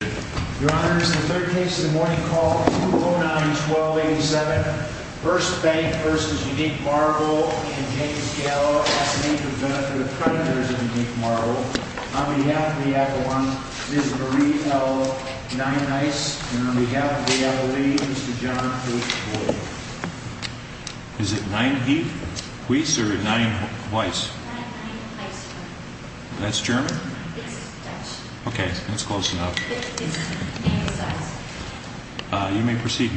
Your Honors, the third case of the morning called 209-1287, 1st Bank v. Unique Marble & James Gallo S&H has been up to the creditors of Unique Marble. On behalf of the Avalon, Mrs. Marie L. Nienhuis, and on behalf of the Avaline, Mr. John H. Boyd. Is it Nienhuis or Nienhuis? Nienhuis. That's German? It's Dutch. Okay, that's close enough. You may proceed, ma'am.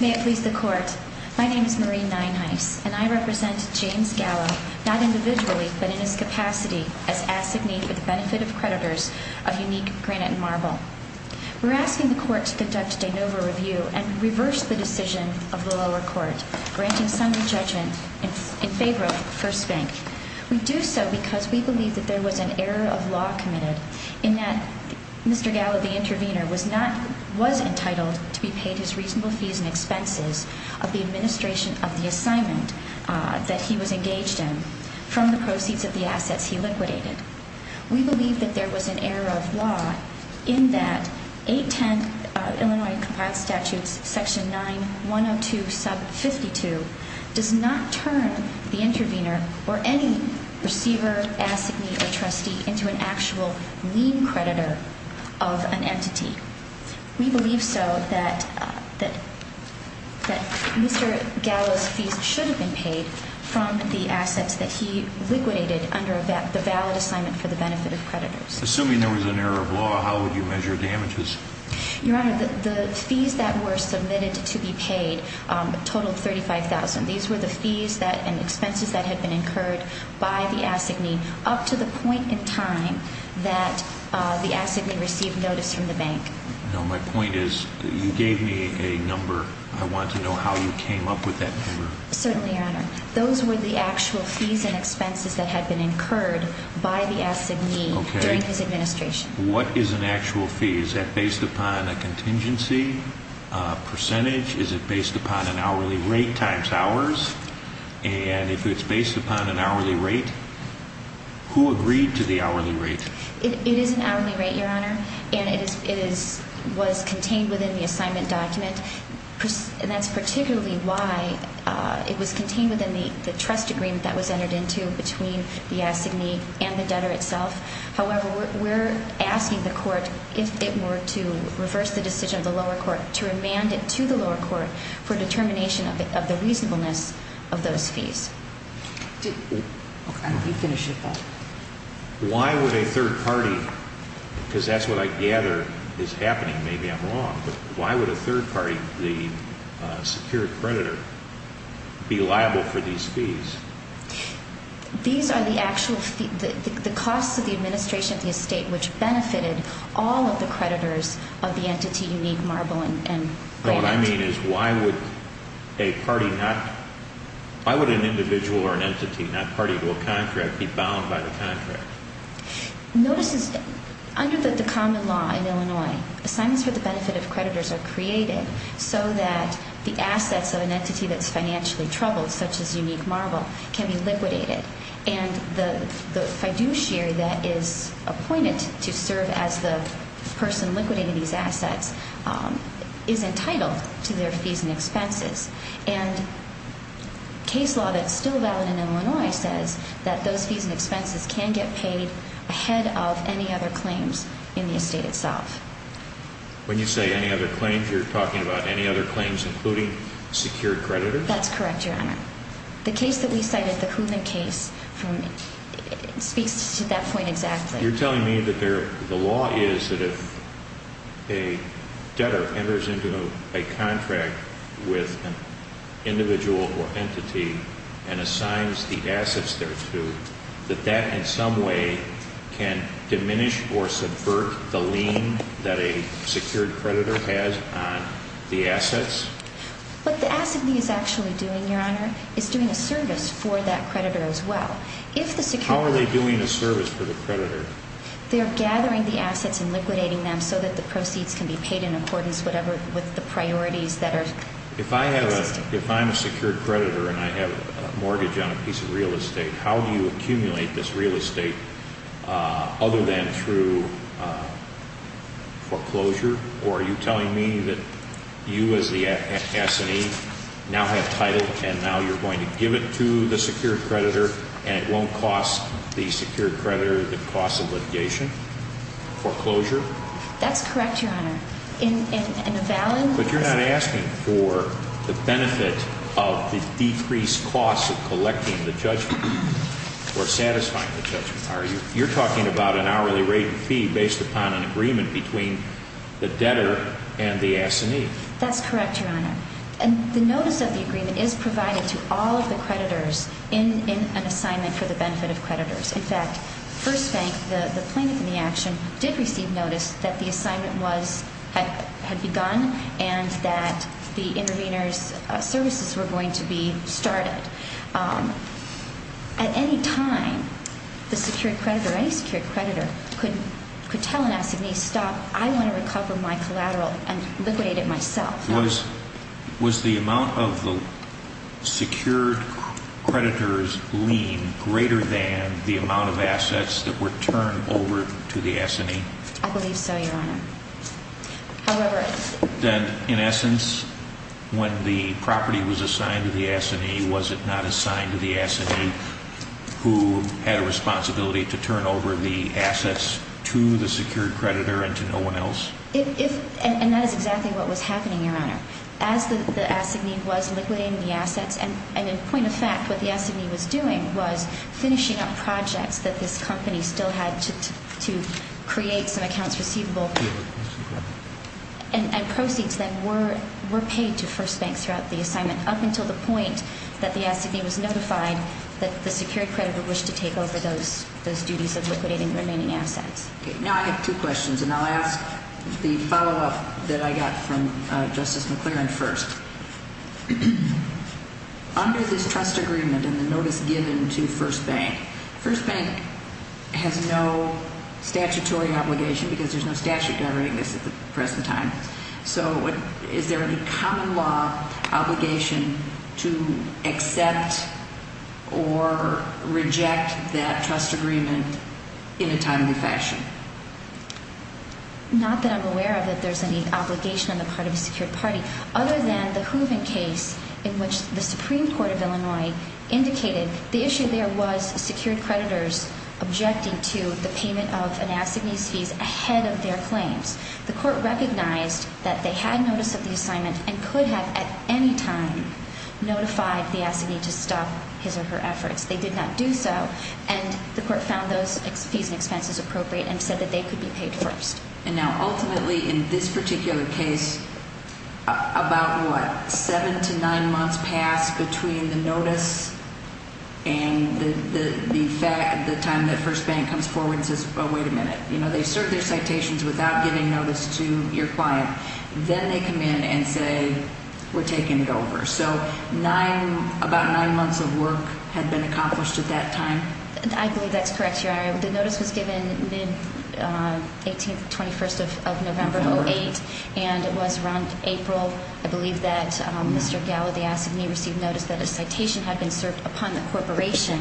May it please the Court. My name is Marie Nienhuis, and I represent James Gallo, not individually, but in his capacity as assignee for the benefit of creditors of Unique Granite & Marble. We're asking the Court to conduct a de novo review and reverse the decision of the lower court granting summary judgment in favor of 1st Bank. We do so because we believe that there was an error of law committed in that Mr. Gallo, the intervener, was entitled to be paid his reasonable fees and expenses of the administration of the assignment that he was engaged in from the proceeds of the assets he liquidated. We believe that there was an error of law in that 810 Illinois Compiled Statutes section 9102 sub 52 does not turn the intervener or any receiver, assignee, or trustee into an actual lien creditor of an entity. We believe so that Mr. Gallo's fees should have been paid from the assets that he liquidated under the valid assignment for the benefit of creditors. Assuming there was an error of law, how would you measure damages? Your Honor, the fees that were submitted to be paid totaled $35,000. These were the fees and expenses that had been incurred by the assignee up to the point in time that the assignee received notice from the bank. No, my point is that you gave me a number. I want to know how you came up with that number. Certainly, Your Honor. Those were the actual fees and expenses that had been incurred by the assignee during his administration. What is an actual fee? Is that based upon a contingency percentage? Is it based upon an hourly rate times hours? And if it's based upon an hourly rate, who agreed to the hourly rate? It is an hourly rate, Your Honor, and it was contained within the assignment document. And that's particularly why it was contained within the trust agreement that was entered into between the assignee and the debtor itself. However, we're asking the court, if it were to reverse the decision of the lower court, to remand it to the lower court for determination of the reasonableness of those fees. Why would a third party, because that's what I gather is happening, maybe I'm wrong, but why would a third party, the secured creditor, be liable for these fees? These are the actual fees, the costs of the administration of the estate, which benefited all of the creditors of the entity, Unique Marble and Bank. No, what I mean is why would a party not, why would an individual or an entity not party to a contract be bound by the contract? Notice is, under the common law in Illinois, assignments for the benefit of creditors are created so that the assets of an entity that's financially troubled, such as Unique Marble, can be liquidated. And the fiduciary that is appointed to serve as the person liquidating these assets is entitled to their fees and expenses. And case law that's still valid in Illinois says that those fees and expenses can get paid ahead of any other claims in the estate itself. When you say any other claims, you're talking about any other claims including secured creditors? That's correct, Your Honor. The case that we cited, the Hoonan case, speaks to that point exactly. You're telling me that the law is that if a debtor enters into a contract with an individual or entity and assigns the assets there to, that that in some way can diminish or subvert the lien that a secured creditor has on the assets? What the assignee is actually doing, Your Honor, is doing a service for that creditor as well. How are they doing a service for the creditor? They're gathering the assets and liquidating them so that the proceeds can be paid in accordance with the priorities that are existing. If I'm a secured creditor and I have a mortgage on a piece of real estate, how do you accumulate this real estate other than through foreclosure? Or are you telling me that you as the assignee now have title and now you're going to give it to the secured creditor and it won't cost the secured creditor the cost of litigation, foreclosure? But you're not asking for the benefit of the decreased cost of collecting the judgment or satisfying the judgment, are you? You're talking about an hourly rate fee based upon an agreement between the debtor and the assignee. That's correct, Your Honor. And the notice of the agreement is provided to all of the creditors in an assignment for the benefit of creditors. In fact, First Bank, the plaintiff in the action, did receive notice that the assignment had begun and that the intervener's services were going to be started. At any time, the secured creditor or any secured creditor could tell an assignee, stop, I want to recover my collateral and liquidate it myself. Was the amount of the secured creditor's lien greater than the amount of assets that were turned over to the assignee? I believe so, Your Honor. Then, in essence, when the property was assigned to the assignee, was it not assigned to the assignee who had a responsibility to turn over the assets to the secured creditor and to no one else? And that is exactly what was happening, Your Honor. As the assignee was liquidating the assets, and in point of fact, what the assignee was doing was finishing up projects that this company still had to create some accounts receivable. And proceeds then were paid to First Bank throughout the assignment up until the point that the assignee was notified that the secured creditor wished to take over those duties of liquidating the remaining assets. Now I have two questions, and I'll ask the follow-up that I got from Justice McClaren first. Under this trust agreement and the notice given to First Bank, First Bank has no statutory obligation because there's no statute governing this at the present time. So is there any common law obligation to accept or reject that trust agreement in a timely fashion? Not that I'm aware of that there's any obligation on the part of the secured party. Other than the Hooven case in which the Supreme Court of Illinois indicated the issue there was secured creditors objecting to the payment of an assignee's fees ahead of their claims. The court recognized that they had notice of the assignment and could have at any time notified the assignee to stop his or her efforts. They did not do so, and the court found those fees and expenses appropriate and said that they could be paid first. And now ultimately in this particular case, about what, seven to nine months passed between the notice and the time that First Bank comes forward and says, oh, wait a minute. You know, they serve their citations without giving notice to your client. Then they come in and say, we're taking it over. So about nine months of work had been accomplished at that time? I believe that's correct, Your Honor. The notice was given mid-18th, 21st of November, 08. And it was around April, I believe, that Mr. Gallo, the assignee, received notice that a citation had been served upon the corporation.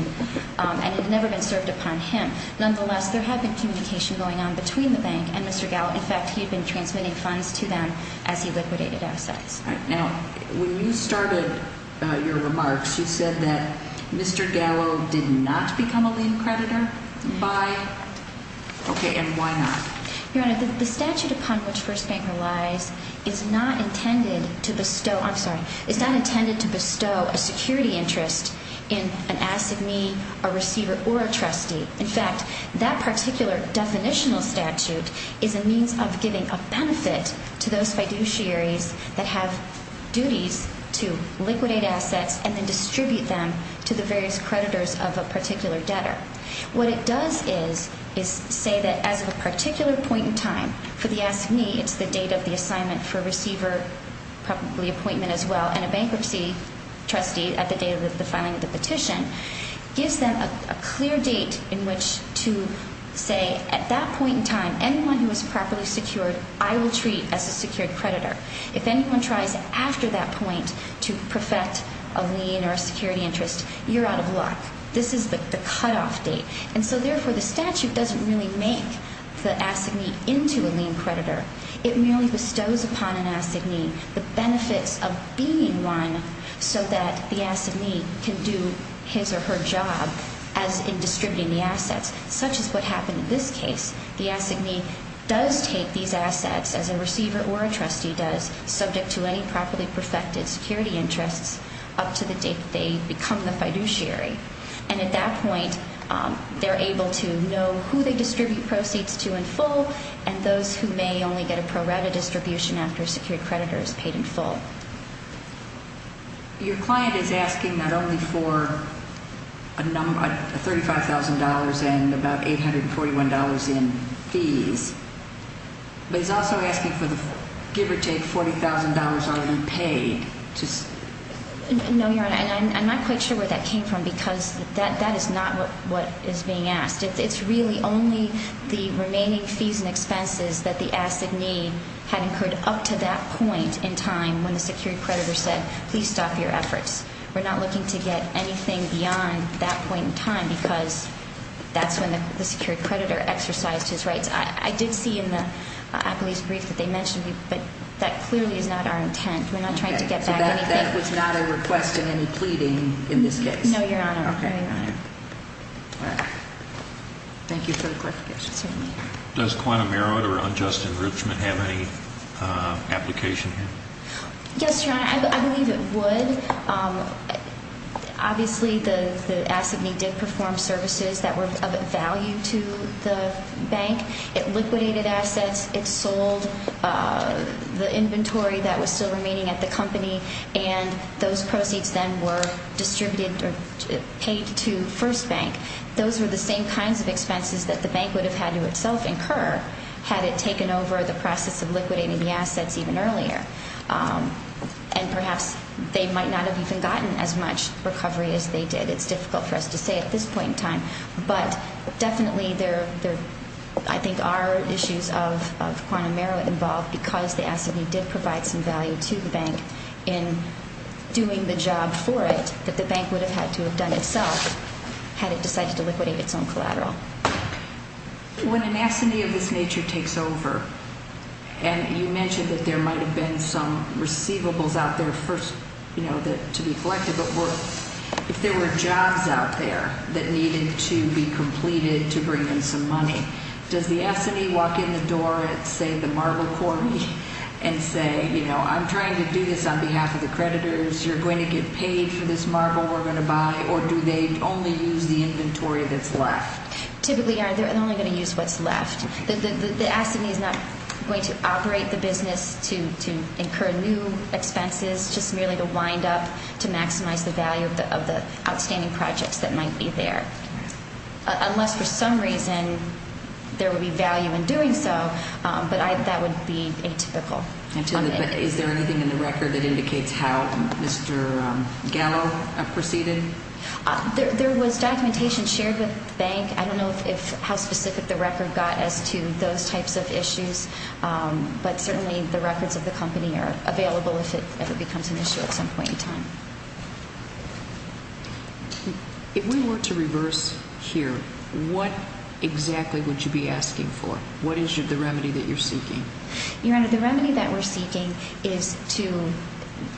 And it had never been served upon him. Nonetheless, there had been communication going on between the bank and Mr. Gallo. In fact, he had been transmitting funds to them as he liquidated assets. Now, when you started your remarks, you said that Mr. Gallo did not become a lien creditor by – okay, and why not? Your Honor, the statute upon which First Bank relies is not intended to bestow – I'm sorry. It's not intended to bestow a security interest in an assignee, a receiver, or a trustee. In fact, that particular definitional statute is a means of giving a benefit to those fiduciaries that have duties to liquidate assets and then distribute them to the various creditors of a particular debtor. What it does is say that as of a particular point in time for the assignee – it's the date of the assignment for receiver, probably appointment as well, and a bankruptcy trustee at the date of the filing of the petition – gives them a clear date in which to say at that point in time, anyone who is properly secured, I will treat as a secured creditor. If anyone tries after that point to perfect a lien or a security interest, you're out of luck. This is the cutoff date. And so, therefore, the statute doesn't really make the assignee into a lien creditor. It merely bestows upon an assignee the benefits of being one so that the assignee can do his or her job as in distributing the assets, such as what happened in this case. The assignee does take these assets, as a receiver or a trustee does, subject to any properly perfected security interests up to the date they become the fiduciary. And at that point, they're able to know who they distribute proceeds to in full and those who may only get a pro rata distribution after a secured creditor is paid in full. Your client is asking not only for $35,000 and about $841 in fees, but he's also asking for the give or take $40,000 already paid. No, Your Honor, and I'm not quite sure where that came from because that is not what is being asked. It's really only the remaining fees and expenses that the assignee had incurred up to that point in time when the secured creditor said, please stop your efforts. We're not looking to get anything beyond that point in time because that's when the secured creditor exercised his rights. I did see in the appellee's brief that they mentioned, but that clearly is not our intent. We're not trying to get back anything. Okay, so that was not a request and any pleading in this case? No, Your Honor. Okay, all right. Thank you for the clarification. Certainly. Does quantum merit or unjust enrichment have any application here? Yes, Your Honor, I believe it would. Obviously, the assignee did perform services that were of value to the bank. It liquidated assets. It sold the inventory that was still remaining at the company, and those proceeds then were distributed or paid to First Bank. Those were the same kinds of expenses that the bank would have had to itself incur had it taken over the process of liquidating the assets even earlier, and perhaps they might not have even gotten as much recovery as they did. It's difficult for us to say at this point in time, but definitely there, I think, are issues of quantum merit involved because the assignee did provide some value to the bank in doing the job for it that the bank would have had to have done itself had it decided to liquidate its own collateral. When an assignee of this nature takes over, and you mentioned that there might have been some receivables out there to be collected, but if there were jobs out there that needed to be completed to bring in some money, does the assignee walk in the door at, say, the marble quarry and say, I'm trying to do this on behalf of the creditors, you're going to get paid for this marble we're going to buy, or do they only use the inventory that's left? Typically, they're only going to use what's left. The assignee is not going to operate the business to incur new expenses, just merely to wind up to maximize the value of the outstanding projects that might be there, unless for some reason there would be value in doing so, but that would be atypical. Is there anything in the record that indicates how Mr. Gallo proceeded? There was documentation shared with the bank. I don't know how specific the record got as to those types of issues, but certainly the records of the company are available if it becomes an issue at some point in time. If we were to reverse here, what exactly would you be asking for? What is the remedy that you're seeking? Your Honor, the remedy that we're seeking is to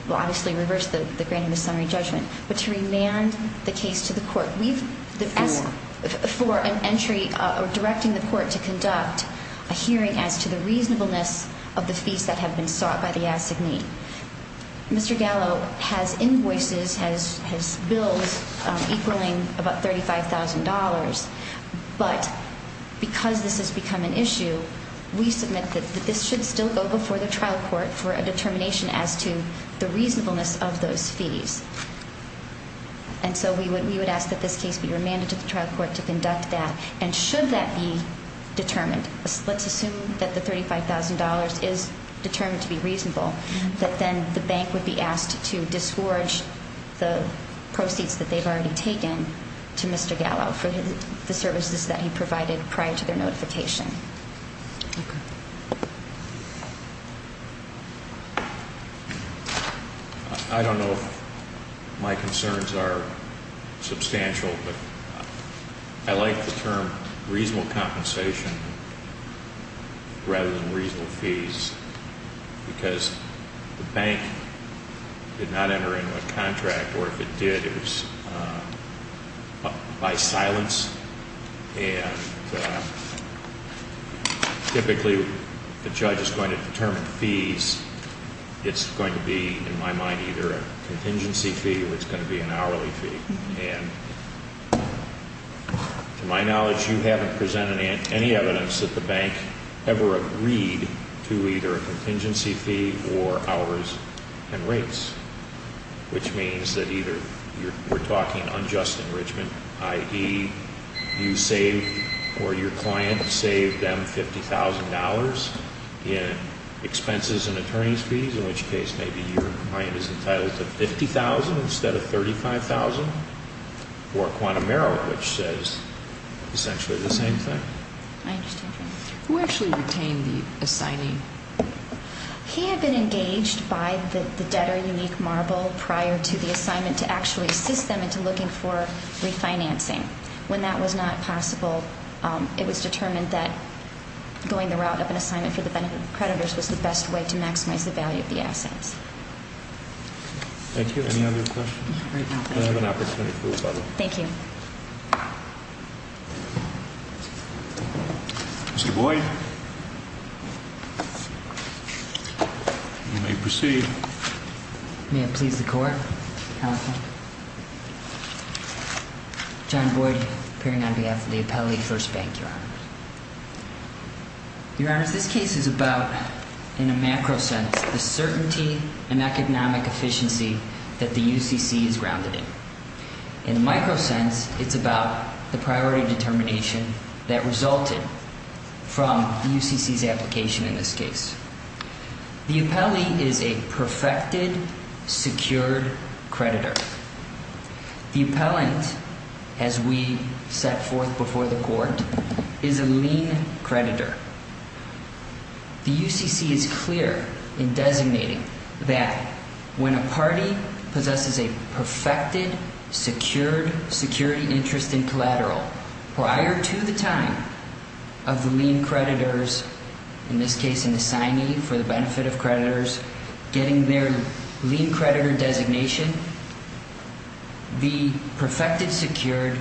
obviously reverse the granting of summary judgment, but to remand the case to the court. We've asked for an entry directing the court to conduct a hearing as to the reasonableness of the fees that have been sought by the assignee. Mr. Gallo has invoices, has bills equaling about $35,000, but because this has become an issue, we submit that this should still go before the trial court for a determination as to the reasonableness of those fees. And so we would ask that this case be remanded to the trial court to conduct that, and should that be determined, let's assume that the $35,000 is determined to be reasonable, that then the bank would be asked to disgorge the proceeds that they've already taken to Mr. Gallo for the services that he provided prior to their notification. I don't know if my concerns are substantial, but I like the term reasonable compensation rather than reasonable fees because the bank did not enter into a contract, or if it did, it was by silence. And typically, the judge is going to determine fees. It's going to be, in my mind, either a contingency fee or it's going to be an hourly fee. And to my knowledge, you haven't presented any evidence that the bank ever agreed to either a contingency fee or hours and rates, which means that either you're talking unjust enrichment, i.e., you save or your client saved them $50,000 in expenses and attorney's fees, in which case maybe your client is entitled to $50,000 instead of $35,000, or a quantum error, which says essentially the same thing. I understand, Your Honor. Who actually retained the assignee? He had been engaged by the debtor, Unique Marble, prior to the assignment, to actually assist them into looking for refinancing. When that was not possible, it was determined that going the route of an assignment for the benefit of creditors was the best way to maximize the value of the assets. Thank you. Any other questions? Not right now. Thank you. I have an opportunity for rebuttal. Thank you. Mr. Boyd, you may proceed. May it please the Court, Counsel? John Boyd, appearing on behalf of the Appellee First Bank, Your Honor. Your Honor, this case is about, in a macro sense, the certainty and economic efficiency that the UCC is grounded in. In a micro sense, it's about the priority determination that resulted from the UCC's application in this case. The appellee is a perfected, secured creditor. The appellant, as we set forth before the Court, is a lien creditor. The UCC is clear in designating that when a party possesses a perfected, secured security interest in collateral prior to the time of the lien creditors, in this case an assignee for the benefit of creditors, getting their lien creditor designation, the perfected, secured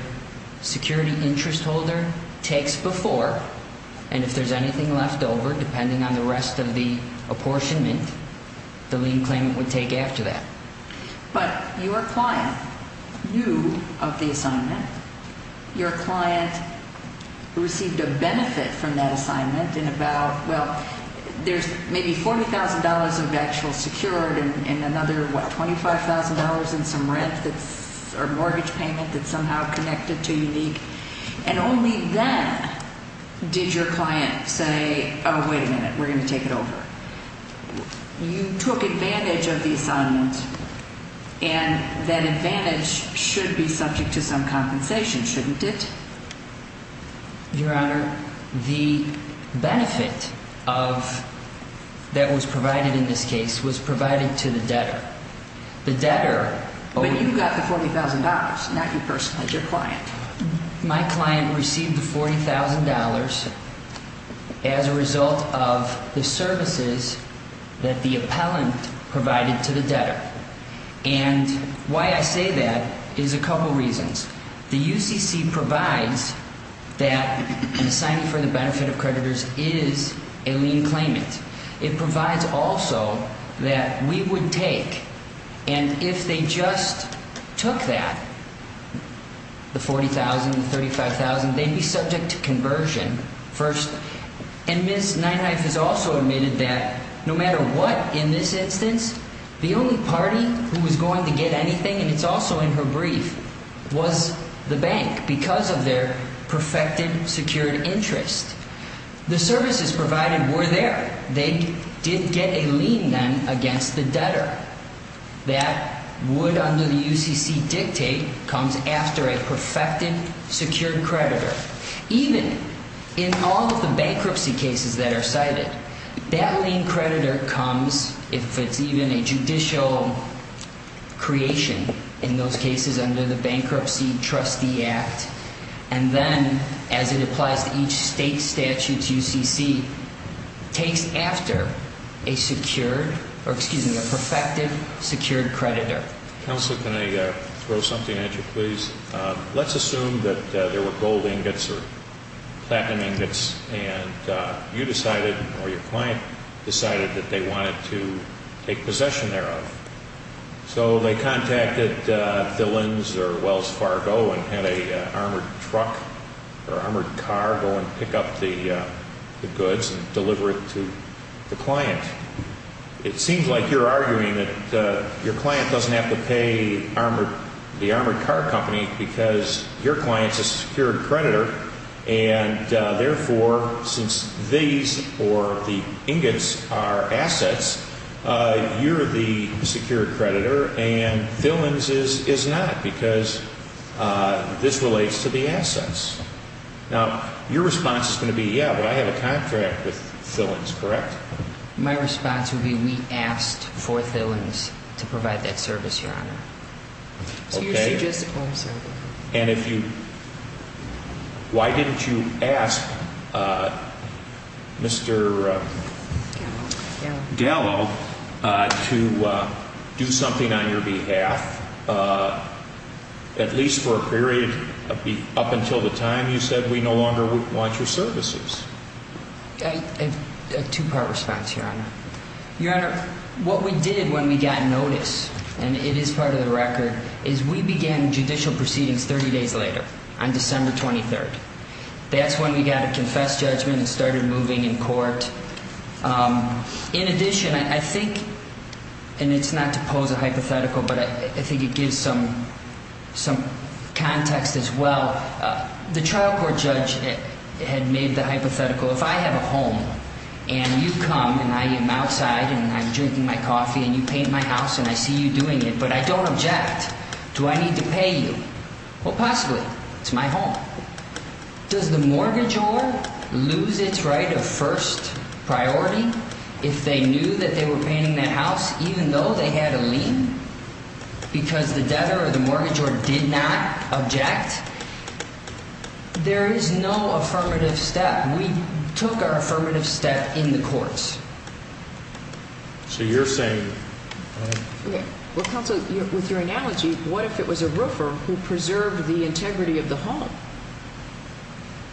security interest holder takes before, and if there's anything left over, depending on the rest of the apportionment, the lien claimant would take after that. But your client knew of the assignment. Your client received a benefit from that assignment in about, well, there's maybe $40,000 of actual secured and another, what, $25,000 in some rent or mortgage payment that's somehow connected to unique, and only then did your client say, oh, wait a minute, we're going to take it over. You took advantage of the assignment, and that advantage should be subject to some compensation, shouldn't it? Your Honor, the benefit that was provided in this case was provided to the debtor. But you got the $40,000, not your client. My client received the $40,000 as a result of the services that the appellant provided to the debtor. And why I say that is a couple reasons. The UCC provides that an assignment for the benefit of creditors is a lien claimant. It provides also that we would take, and if they just took that, the $40,000, the $35,000, they'd be subject to conversion first. And Ms. Neinheif has also admitted that no matter what in this instance, the only party who was going to get anything, and it's also in her brief, was the bank because of their perfected, secured interest. The services provided were there. They did get a lien then against the debtor. That would under the UCC dictate comes after a perfected, secured creditor. Even in all of the bankruptcy cases that are cited, that lien creditor comes, if it's even a judicial creation in those cases under the Bankruptcy Trustee Act, and then as it applies to each state statute, UCC takes after a secured, or excuse me, a perfected, secured creditor. Counselor, can I throw something at you, please? Let's assume that there were gold ingots or platinum ingots, and you decided or your client decided that they wanted to take possession thereof. So they contacted Dillons or Wells Fargo and had an armored truck or armored car go and pick up the goods and deliver it to the client. It seems like you're arguing that your client doesn't have to pay the armored car company because your client's a secured creditor, and therefore, since these or the ingots are assets, you're the secured creditor and Dillons is not because this relates to the assets. Now, your response is going to be, yeah, but I have a contract with Dillons, correct? My response would be we asked for Dillons to provide that service, Your Honor. Okay. So you're suggesting, I'm sorry. And if you, why didn't you ask Mr. Gallo to do something on your behalf, at least for a period up until the time you said we no longer want your services? A two-part response, Your Honor. Your Honor, what we did when we got notice, and it is part of the record, is we began judicial proceedings 30 days later on December 23rd. That's when we got a confess judgment and started moving in court. In addition, I think, and it's not to pose a hypothetical, but I think it gives some context as well. The trial court judge had made the hypothetical, if I have a home and you come and I am outside and I'm drinking my coffee and you paint my house and I see you doing it, but I don't object, do I need to pay you? Well, possibly. It's my home. Does the mortgagor lose its right of first priority if they knew that they were painting that house even though they had a lien because the debtor or the mortgagor did not object? There is no affirmative step. We took our affirmative step in the courts. So you're saying – Well, counsel, with your analogy, what if it was a roofer who preserved the integrity of the home?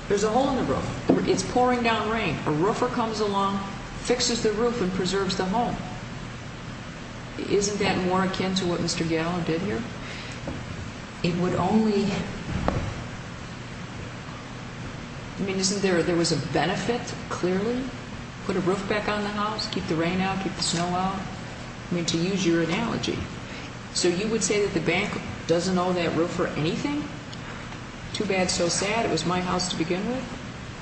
There's a hole in the roof. It's pouring down rain. A roofer comes along, fixes the roof, and preserves the home. Isn't that more akin to what Mr. Gallin did here? It would only – I mean, isn't there – there was a benefit, clearly, put a roof back on the house, keep the rain out, keep the snow out? I mean, to use your analogy. So you would say that the bank doesn't owe that roofer anything? Too bad, so sad, it was my house to begin with?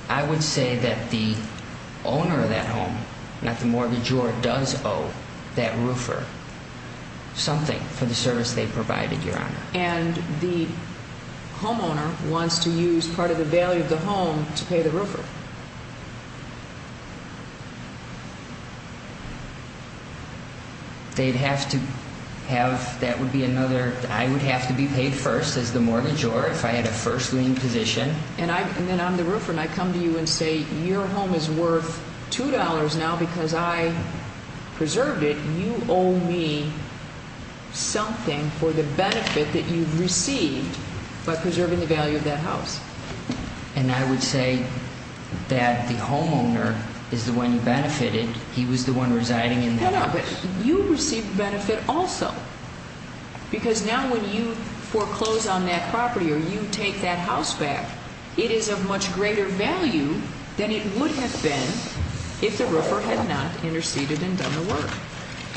I would say that the owner of that home, not the mortgagor, does owe that roofer something for the service they provided, Your Honor. And the homeowner wants to use part of the value of the home to pay the roofer? They'd have to have – that would be another – I would have to be paid first as the mortgagor if I had a first lien position. And then I'm the roofer, and I come to you and say your home is worth $2 now because I preserved it. You owe me something for the benefit that you've received by preserving the value of that house. And I would say that the homeowner is the one who benefited. He was the one residing in that house. But you received benefit also because now when you foreclose on that property or you take that house back, it is of much greater value than it would have been if the roofer had not interceded and done the work.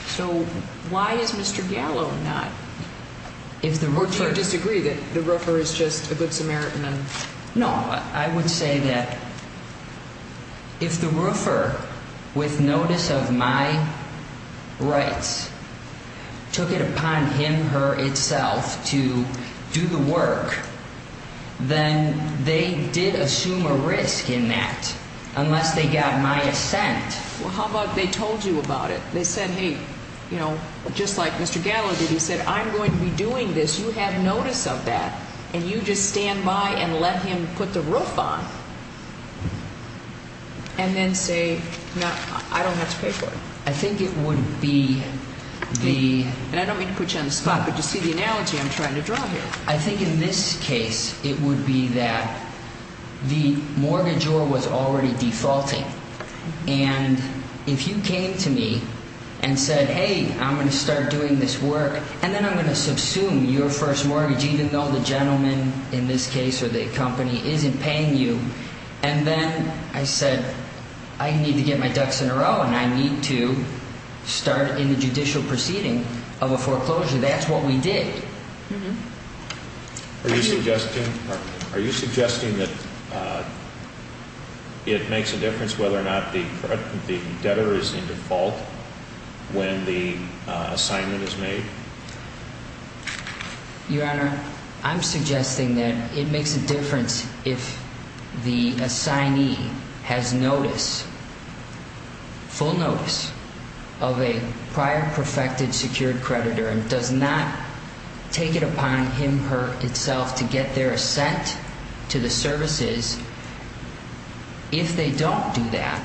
So why is Mr. Gallo not – or do you disagree that the roofer is just a good Samaritan and – No, I would say that if the roofer, with notice of my rights, took it upon him, her, itself to do the work, then they did assume a risk in that unless they got my assent. Well, how about they told you about it? They said, hey, just like Mr. Gallo did, he said, I'm going to be doing this. You have notice of that, and you just stand by and let him put the roof on and then say, no, I don't have to pay for it. I think it would be the – And I don't mean to put you on the spot, but you see the analogy I'm trying to draw here. I think in this case it would be that the mortgagor was already defaulting, and if you came to me and said, hey, I'm going to start doing this work and then I'm going to subsume your first mortgage, even though the gentleman in this case or the company isn't paying you, and then I said, I need to get my ducks in a row and I need to start in the judicial proceeding of a foreclosure, that's what we did. Are you suggesting that it makes a difference whether or not the debtor is in default when the assignment is made? Your Honor, I'm suggesting that it makes a difference if the assignee has notice, full notice, of a prior perfected secured creditor and does not take it upon him, her, itself to get their assent to the services. If they don't do that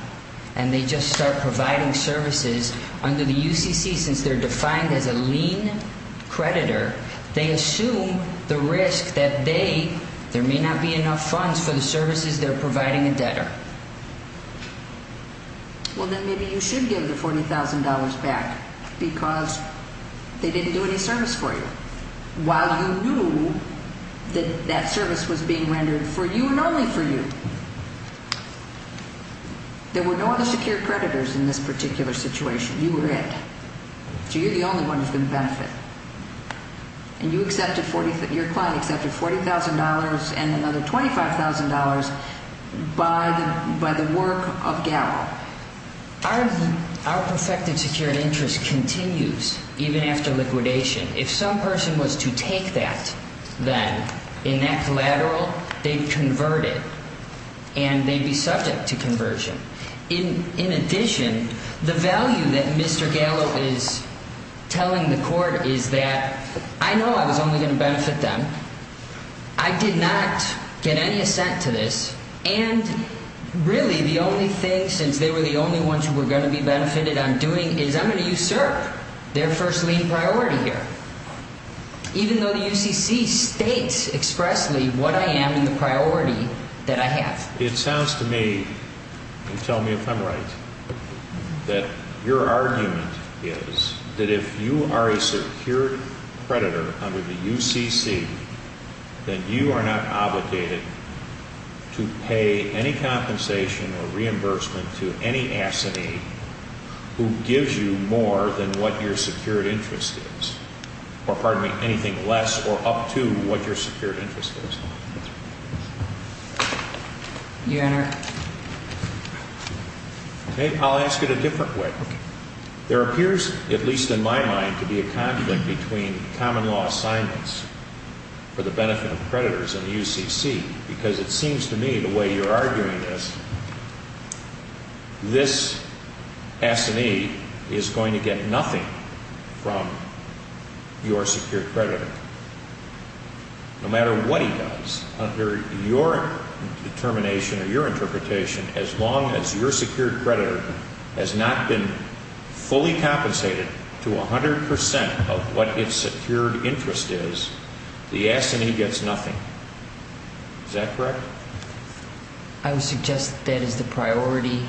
and they just start providing services under the UCC, since they're defined as a lien creditor, they assume the risk that they – there may not be enough funds for the services they're providing a debtor. Well, then maybe you should give the $40,000 back because they didn't do any service for you while you knew that that service was being rendered for you and only for you. There were no other secured creditors in this particular situation. You were it. So you're the only one who's going to benefit. And you accepted – your client accepted $40,000 and another $25,000 by the work of GAL. Our perfected secured interest continues even after liquidation. If some person was to take that, then, in that collateral, they'd convert it and they'd be subject to conversion. In addition, the value that Mr. Gallo is telling the court is that, I know I was only going to benefit them. I did not get any assent to this. And, really, the only thing, since they were the only ones who were going to be benefited on doing, is I'm going to usurp their first lien priority here, even though the UCC states expressly what I am and the priority that I have. It sounds to me, and tell me if I'm right, that your argument is that if you are a secured creditor under the UCC, then you are not obligated to pay any compensation or reimbursement to any assentee who gives you more than what your secured interest is. Or, pardon me, anything less or up to what your secured interest is. I'll ask it a different way. There appears, at least in my mind, to be a conflict between common law assignments for the benefit of creditors and the UCC, because it seems to me the way you're arguing this, this assentee is going to get nothing from your secured creditor. No matter what he does, under your determination or your interpretation, as long as your secured creditor has not been fully compensated to 100 percent of what his secured interest is, the assentee gets nothing. Is that correct? I would suggest that is the priority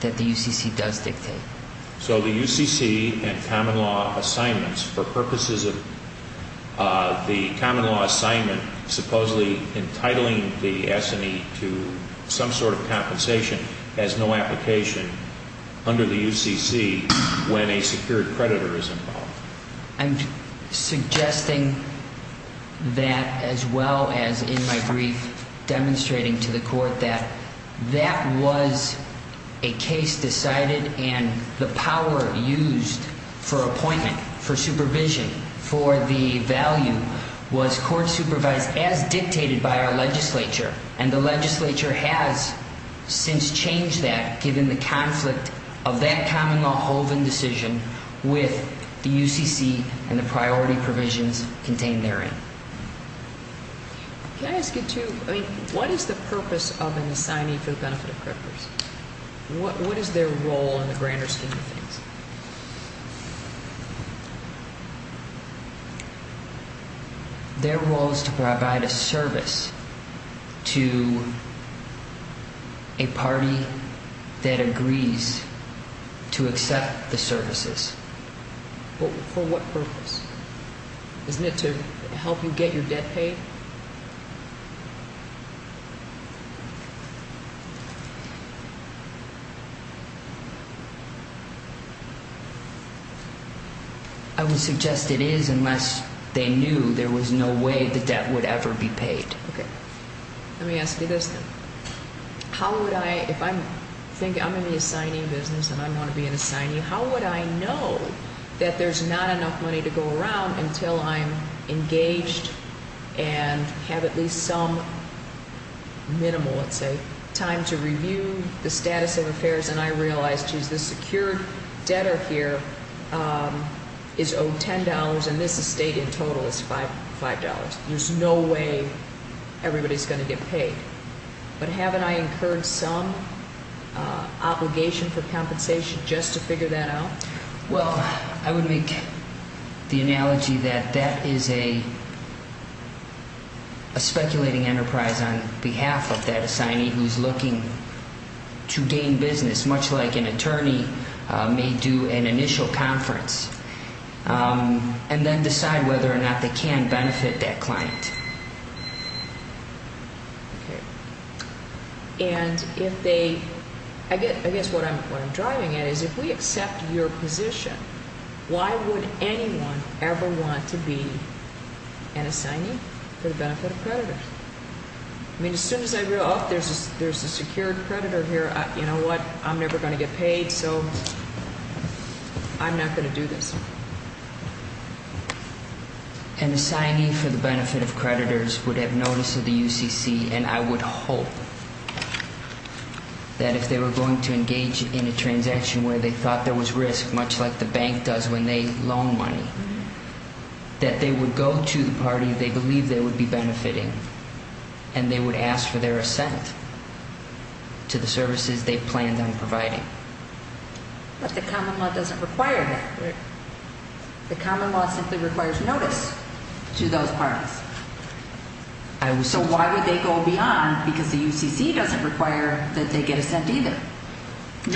that the UCC does dictate. So the UCC and common law assignments, for purposes of the common law assignment, supposedly entitling the assentee to some sort of compensation, has no application under the UCC when a secured creditor is involved. I'm suggesting that, as well as in my brief demonstrating to the court, that that was a case decided and the power used for appointment, for supervision, for the value, was court supervised as dictated by our legislature. And the legislature has since changed that, given the conflict of that common law Holden decision with the UCC and the priority provisions contained therein. Can I ask you, too, what is the purpose of an assignee for the benefit of creditors? What is their role in the grander scheme of things? Their role is to provide a service to a party that agrees to accept the services. For what purpose? Isn't it to help you get your debt paid? I would suggest it is, unless they knew there was no way the debt would ever be paid. Let me ask you this then. If I'm in the assignee business and I want to be an assignee, how would I know that there's not enough money to go around until I'm engaged and have at least some minimal, let's say, time to review the status of affairs and I realize, geez, this secured debtor here is owed $10 and this estate in total is $5. There's no way everybody's going to get paid. But haven't I incurred some obligation for compensation just to figure that out? Okay. And if they – I guess what I'm driving at is if we accept your position, why would anyone ever want to be an assignee for the benefit of creditors? I mean, as soon as I realize, oh, there's a secured creditor here, you know what, I'm never going to get paid, so I'm not going to do this. An assignee for the benefit of creditors would have notice of the UCC and I would hope that if they were going to engage in a transaction where they thought there was risk, much like the bank does when they loan money, that they would go to the party they believe they would be benefiting and they would ask for their assent to the services they planned on providing. But the common law doesn't require that. The common law simply requires notice to those parties. So why would they go beyond because the UCC doesn't require that they get assent either.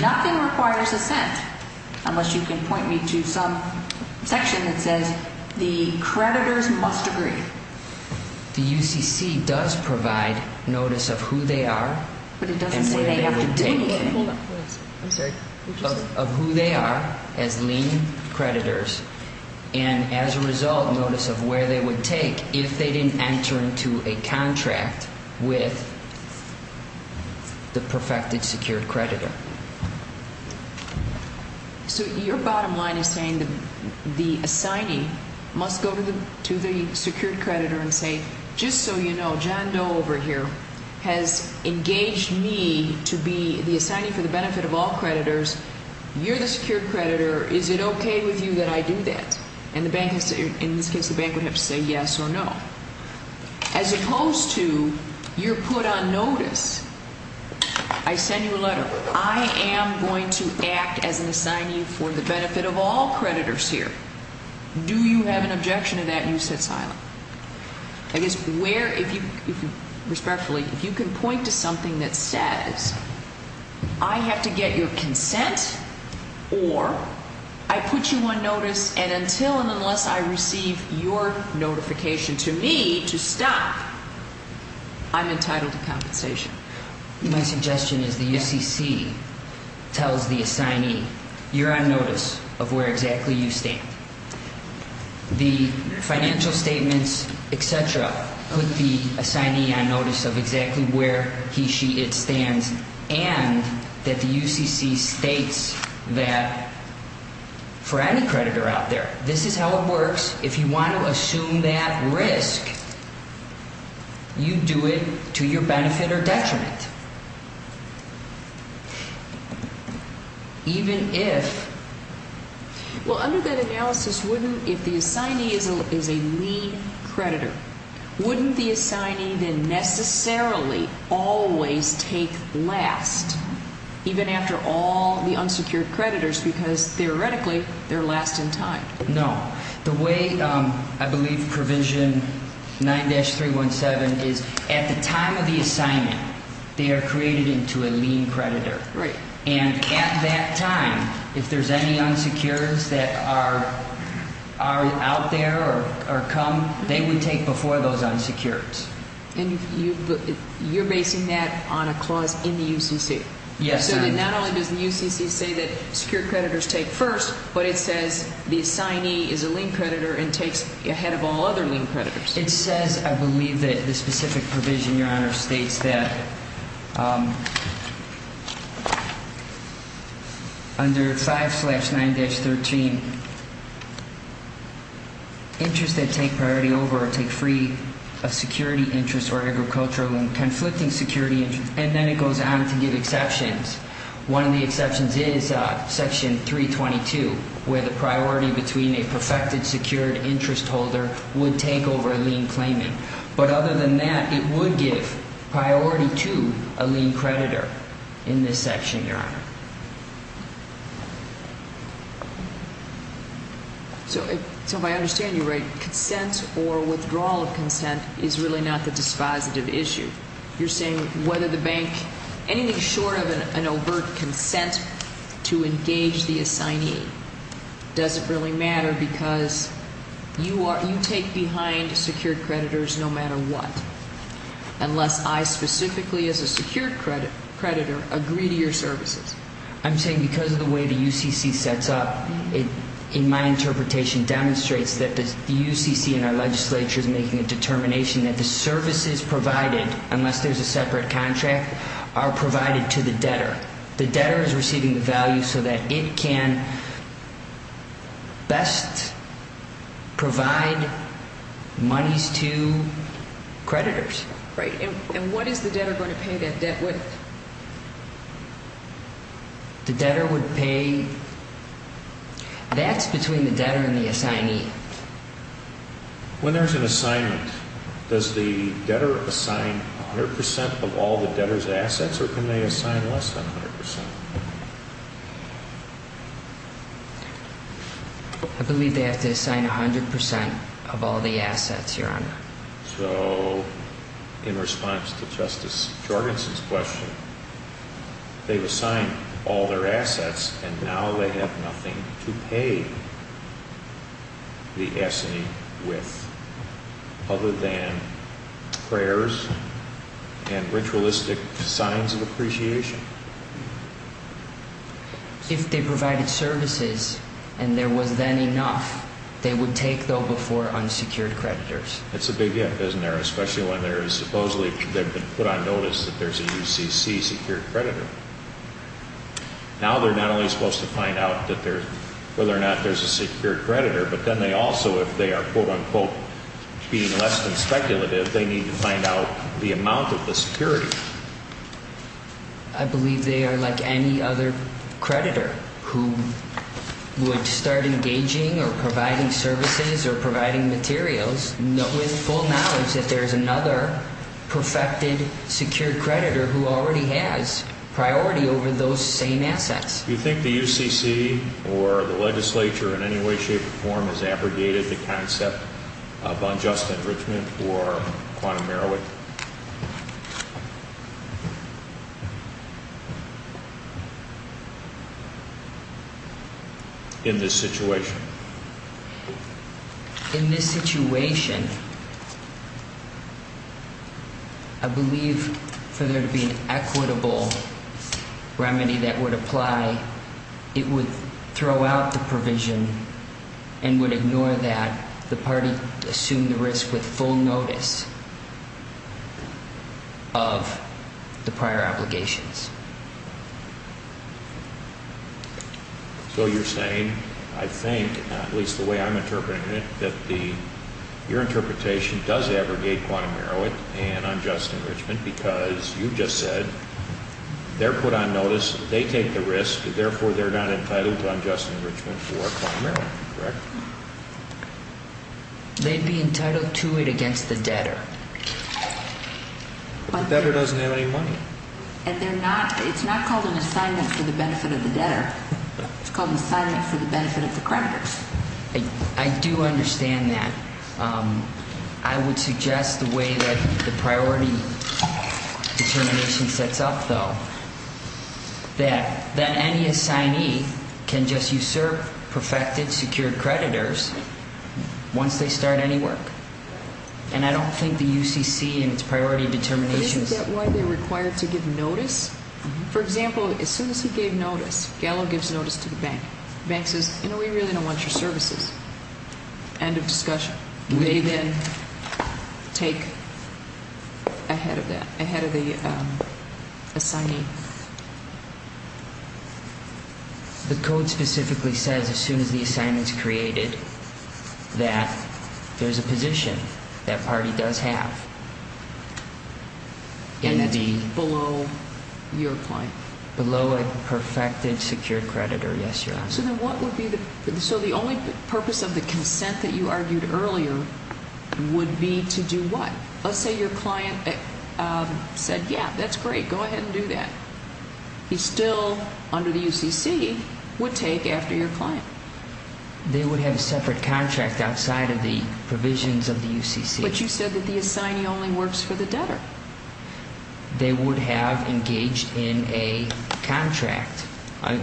Nothing requires assent unless you can point me to some section that says the creditors must agree. The UCC does provide notice of who they are and where they would take – of who they are as lien creditors, and as a result, notice of where they would take if they didn't enter into a contract with the perfected secured creditor. So your bottom line is saying the assignee must go to the secured creditor and say, just so you know, John Doe over here has engaged me to be the assignee for the benefit of all creditors. You're the secured creditor. Is it okay with you that I do that? And the bank has to – in this case, the bank would have to say yes or no. As opposed to you're put on notice. I send you a letter. I am going to act as an assignee for the benefit of all creditors here. Do you have an objection to that? You sit silent. I guess where – if you – respectfully, if you can point to something that says I have to get your consent or I put you on notice and until and unless I receive your notification to me to stop, I'm entitled to compensation. My suggestion is the UCC tells the assignee, you're on notice of where exactly you stand. The financial statements, et cetera, put the assignee on notice of exactly where he, she, it stands and that the UCC states that for any creditor out there, this is how it works. If you want to assume that risk, you do it to your benefit or detriment. Even if – In that analysis, wouldn't – if the assignee is a lean creditor, wouldn't the assignee then necessarily always take last even after all the unsecured creditors because theoretically, they're last in time? No. The way I believe provision 9-317 is at the time of the assignment, they are created into a lean creditor. Right. And at that time, if there's any unsecures that are out there or come, they would take before those unsecures. And you're basing that on a clause in the UCC? Yes, ma'am. So then not only does the UCC say that secured creditors take first, but it says the assignee is a lean creditor and takes ahead of all other lean creditors. It says, I believe, that the specific provision, Your Honor, states that under 5-9-13, interests that take priority over or take free of security interests or agricultural and conflicting security interests – and then it goes on to give exceptions. One of the exceptions is Section 322, where the priority between a perfected, secured interest holder would take over lean claiming. But other than that, it would give priority to a lean creditor in this section, Your Honor. So if I understand you right, consent or withdrawal of consent is really not the dispositive issue. You're saying whether the bank – anything short of an overt consent to engage the assignee doesn't really matter because you take behind secured creditors no matter what, unless I specifically, as a secured creditor, agree to your services. I'm saying because of the way the UCC sets up, it, in my interpretation, demonstrates that the UCC and our legislature is making a determination that the services provided, unless there's a separate contract, are provided to the debtor. The debtor is receiving the value so that it can best provide monies to creditors. Right. And what is the debtor going to pay that debt with? The debtor would pay – that's between the debtor and the assignee. When there's an assignment, does the debtor assign 100 percent of all the debtor's assets or can they assign less than 100 percent? I believe they have to assign 100 percent of all the assets, Your Honor. So, in response to Justice Jorgensen's question, they've assigned all their assets and now they have nothing to pay the assignee with other than prayers and ritualistic signs of appreciation? If they provided services and there was then enough, they would take, though, before unsecured creditors. That's a big if, isn't there, especially when there is supposedly – they've been put on notice that there's a UCC secured creditor. Now they're not only supposed to find out that there's – whether or not there's a secured creditor, but then they also, if they are, quote-unquote, being less than speculative, they need to find out the amount of the security. I believe they are like any other creditor who would start engaging or providing services or providing materials with full knowledge that there's another perfected, secured creditor who already has priority over those same assets. Do you think the UCC or the legislature in any way, shape, or form has abrogated the concept of unjust enrichment for quantum merit in this situation? In this situation, I believe for there to be an equitable remedy that would apply, it would throw out the provision and would ignore that the party assumed the risk with full notice of the prior obligations. So you're saying, I think, at least the way I'm interpreting it, that the – your interpretation does abrogate quantum merit and unjust enrichment because you just said they're put on notice, they take the risk, and therefore they're not entitled to unjust enrichment for quantum merit, correct? They'd be entitled to it against the debtor. But the debtor doesn't have any money. And they're not – it's not called an assignment for the benefit of the debtor. It's called an assignment for the benefit of the creditors. I do understand that. I would suggest the way that the priority determination sets up, though, that any assignee can just usurp perfected, secured creditors once they start any work. And I don't think the UCC and its priority determinations – Isn't that why they're required to give notice? For example, as soon as he gave notice, Gallo gives notice to the bank. The bank says, you know, we really don't want your services. End of discussion. They then take ahead of that, ahead of the assignee. The code specifically says as soon as the assignment's created that there's a position that party does have. And that's below your client. Below a perfected, secured creditor, yes, Your Honor. So then what would be the – so the only purpose of the consent that you argued earlier would be to do what? Let's say your client said, yeah, that's great, go ahead and do that. He still, under the UCC, would take after your client. They would have a separate contract outside of the provisions of the UCC. But you said that the assignee only works for the debtor. They would have engaged in a contract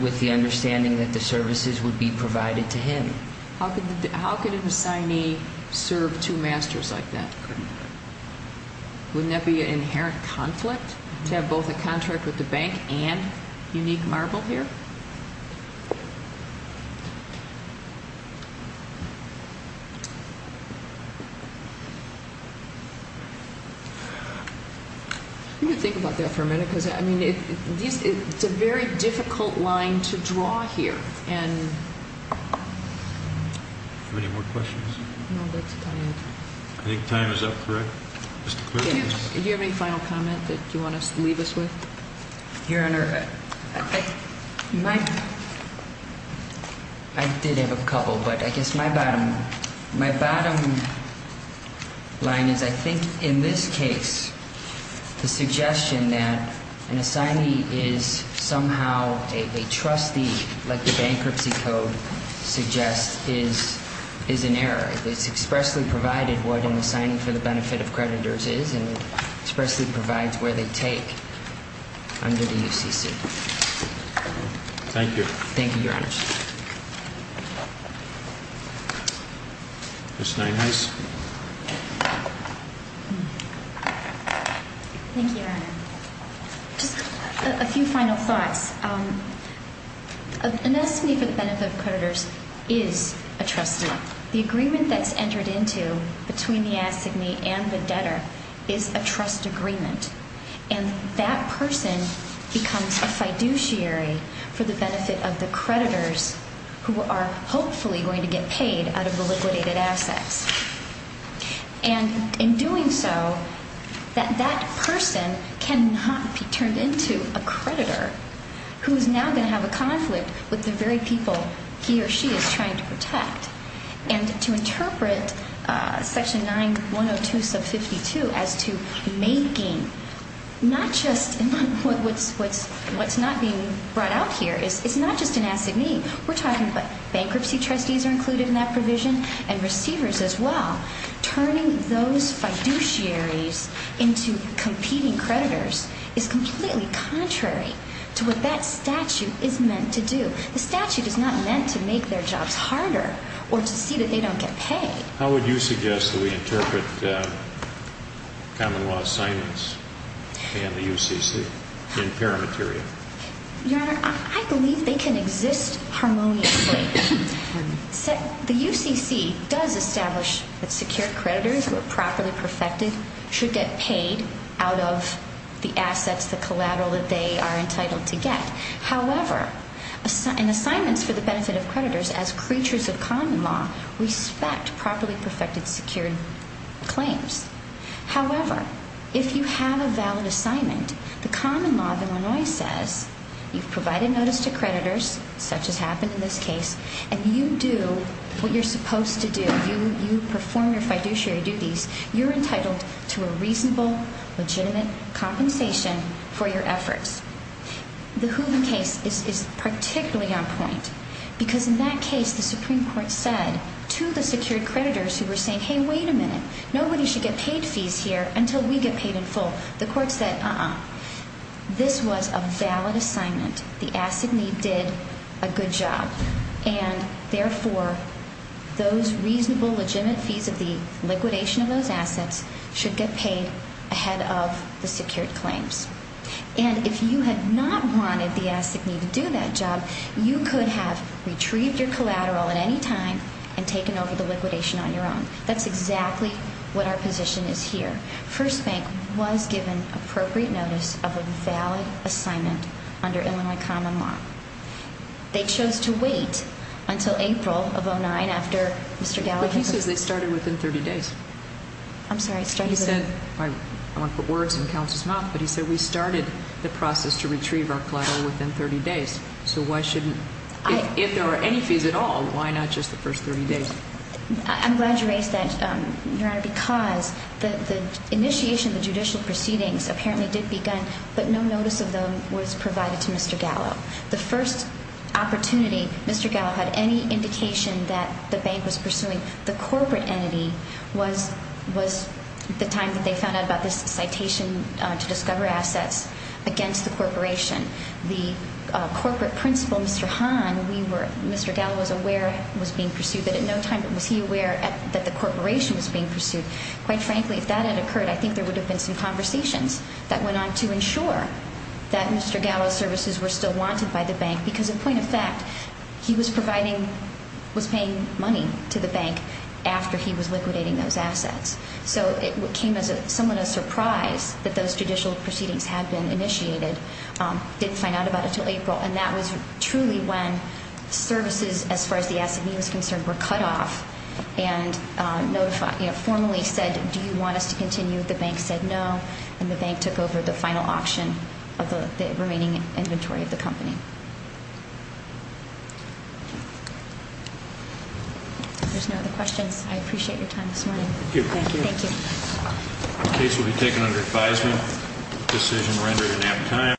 with the understanding that the services would be provided to him. How could an assignee serve two masters like that? Couldn't. Wouldn't that be an inherent conflict to have both a contract with the bank and Unique Marble here? Let me think about that for a minute because, I mean, these – it's a very difficult line to draw here. And – Any more questions? No, that's time. I think time is up, correct? Do you have any final comment that you want to leave us with? Your Honor, I think my – I did have a couple, but I guess my bottom line is I think in this case, the suggestion that an assignee is somehow a trustee like the Bankruptcy Code suggests is an error. It's expressly provided what an assignee for the benefit of creditors is and expressly provides where they take. Under the UCC. Thank you. Thank you, Your Honor. Ms. Nienhuis? Thank you, Your Honor. Just a few final thoughts. An assignee for the benefit of creditors is a trustee. The agreement that's entered into between the assignee and the debtor is a trust agreement. And that person becomes a fiduciary for the benefit of the creditors who are hopefully going to get paid out of the liquidated assets. And in doing so, that that person cannot be turned into a creditor who is now going to have a conflict with the very people he or she is trying to protect. And to interpret section 902 sub 52 as to making not just what's not being brought out here, it's not just an assignee. We're talking about bankruptcy trustees are included in that provision and receivers as well. Turning those fiduciaries into competing creditors is completely contrary to what that statute is meant to do. The statute is not meant to make their jobs harder or to see that they don't get paid. How would you suggest that we interpret common law assignments and the UCC in paramaterial? Your Honor, I believe they can exist harmoniously. The UCC does establish that secure creditors who are properly perfected should get paid out of the assets, the collateral that they are entitled to get. However, in assignments for the benefit of creditors as creatures of common law, respect properly perfected secured claims. However, if you have a valid assignment, the common law of Illinois says you've provided notice to creditors, such as happened in this case, and you do what you're supposed to do, you perform your fiduciary duties, you're entitled to a reasonable, legitimate compensation for your efforts. The Hooven case is particularly on point because in that case, the Supreme Court said to the secured creditors who were saying, hey, wait a minute, nobody should get paid fees here until we get paid in full. The court said, uh-uh, this was a valid assignment. The asset need did a good job, and therefore, those reasonable, legitimate fees of the liquidation of those assets should get paid ahead of the secured claims. And if you had not wanted the asset need to do that job, you could have retrieved your collateral at any time and taken over the liquidation on your own. That's exactly what our position is here. First Bank was given appropriate notice of a valid assignment under Illinois common law. They chose to wait until April of 09 after Mr. Gallagher... But he says they started within 30 days. I'm sorry, started within... He said, I don't want to put words in counsel's mouth, but he said we started the process to retrieve our collateral within 30 days. So why shouldn't, if there are any fees at all, why not just the first 30 days? I'm glad you raised that, Your Honor, because the initiation of the judicial proceedings apparently did begin, but no notice of them was provided to Mr. Gallagher. The first opportunity Mr. Gallagher had any indication that the bank was pursuing the corporate entity was the time that they found out about this citation to discover assets against the corporation. The corporate principal, Mr. Hahn, we were, Mr. Gallagher was aware, was being pursued, but at no time was he aware that the corporation was being pursued. Quite frankly, if that had occurred, I think there would have been some conversations that went on to ensure that Mr. Gallagher's services were still wanted by the bank. Because a point of fact, he was providing, was paying money to the bank after he was liquidating those assets. So it came as somewhat of a surprise that those judicial proceedings had been initiated, didn't find out about it until April. And that was truly when services, as far as the S&E was concerned, were cut off and formally said, do you want us to continue? The bank said no, and the bank took over the final auction of the remaining inventory of the company. If there's no other questions, I appreciate your time this morning. Thank you. Thank you. The case will be taken under advisement. Decision rendered at that time.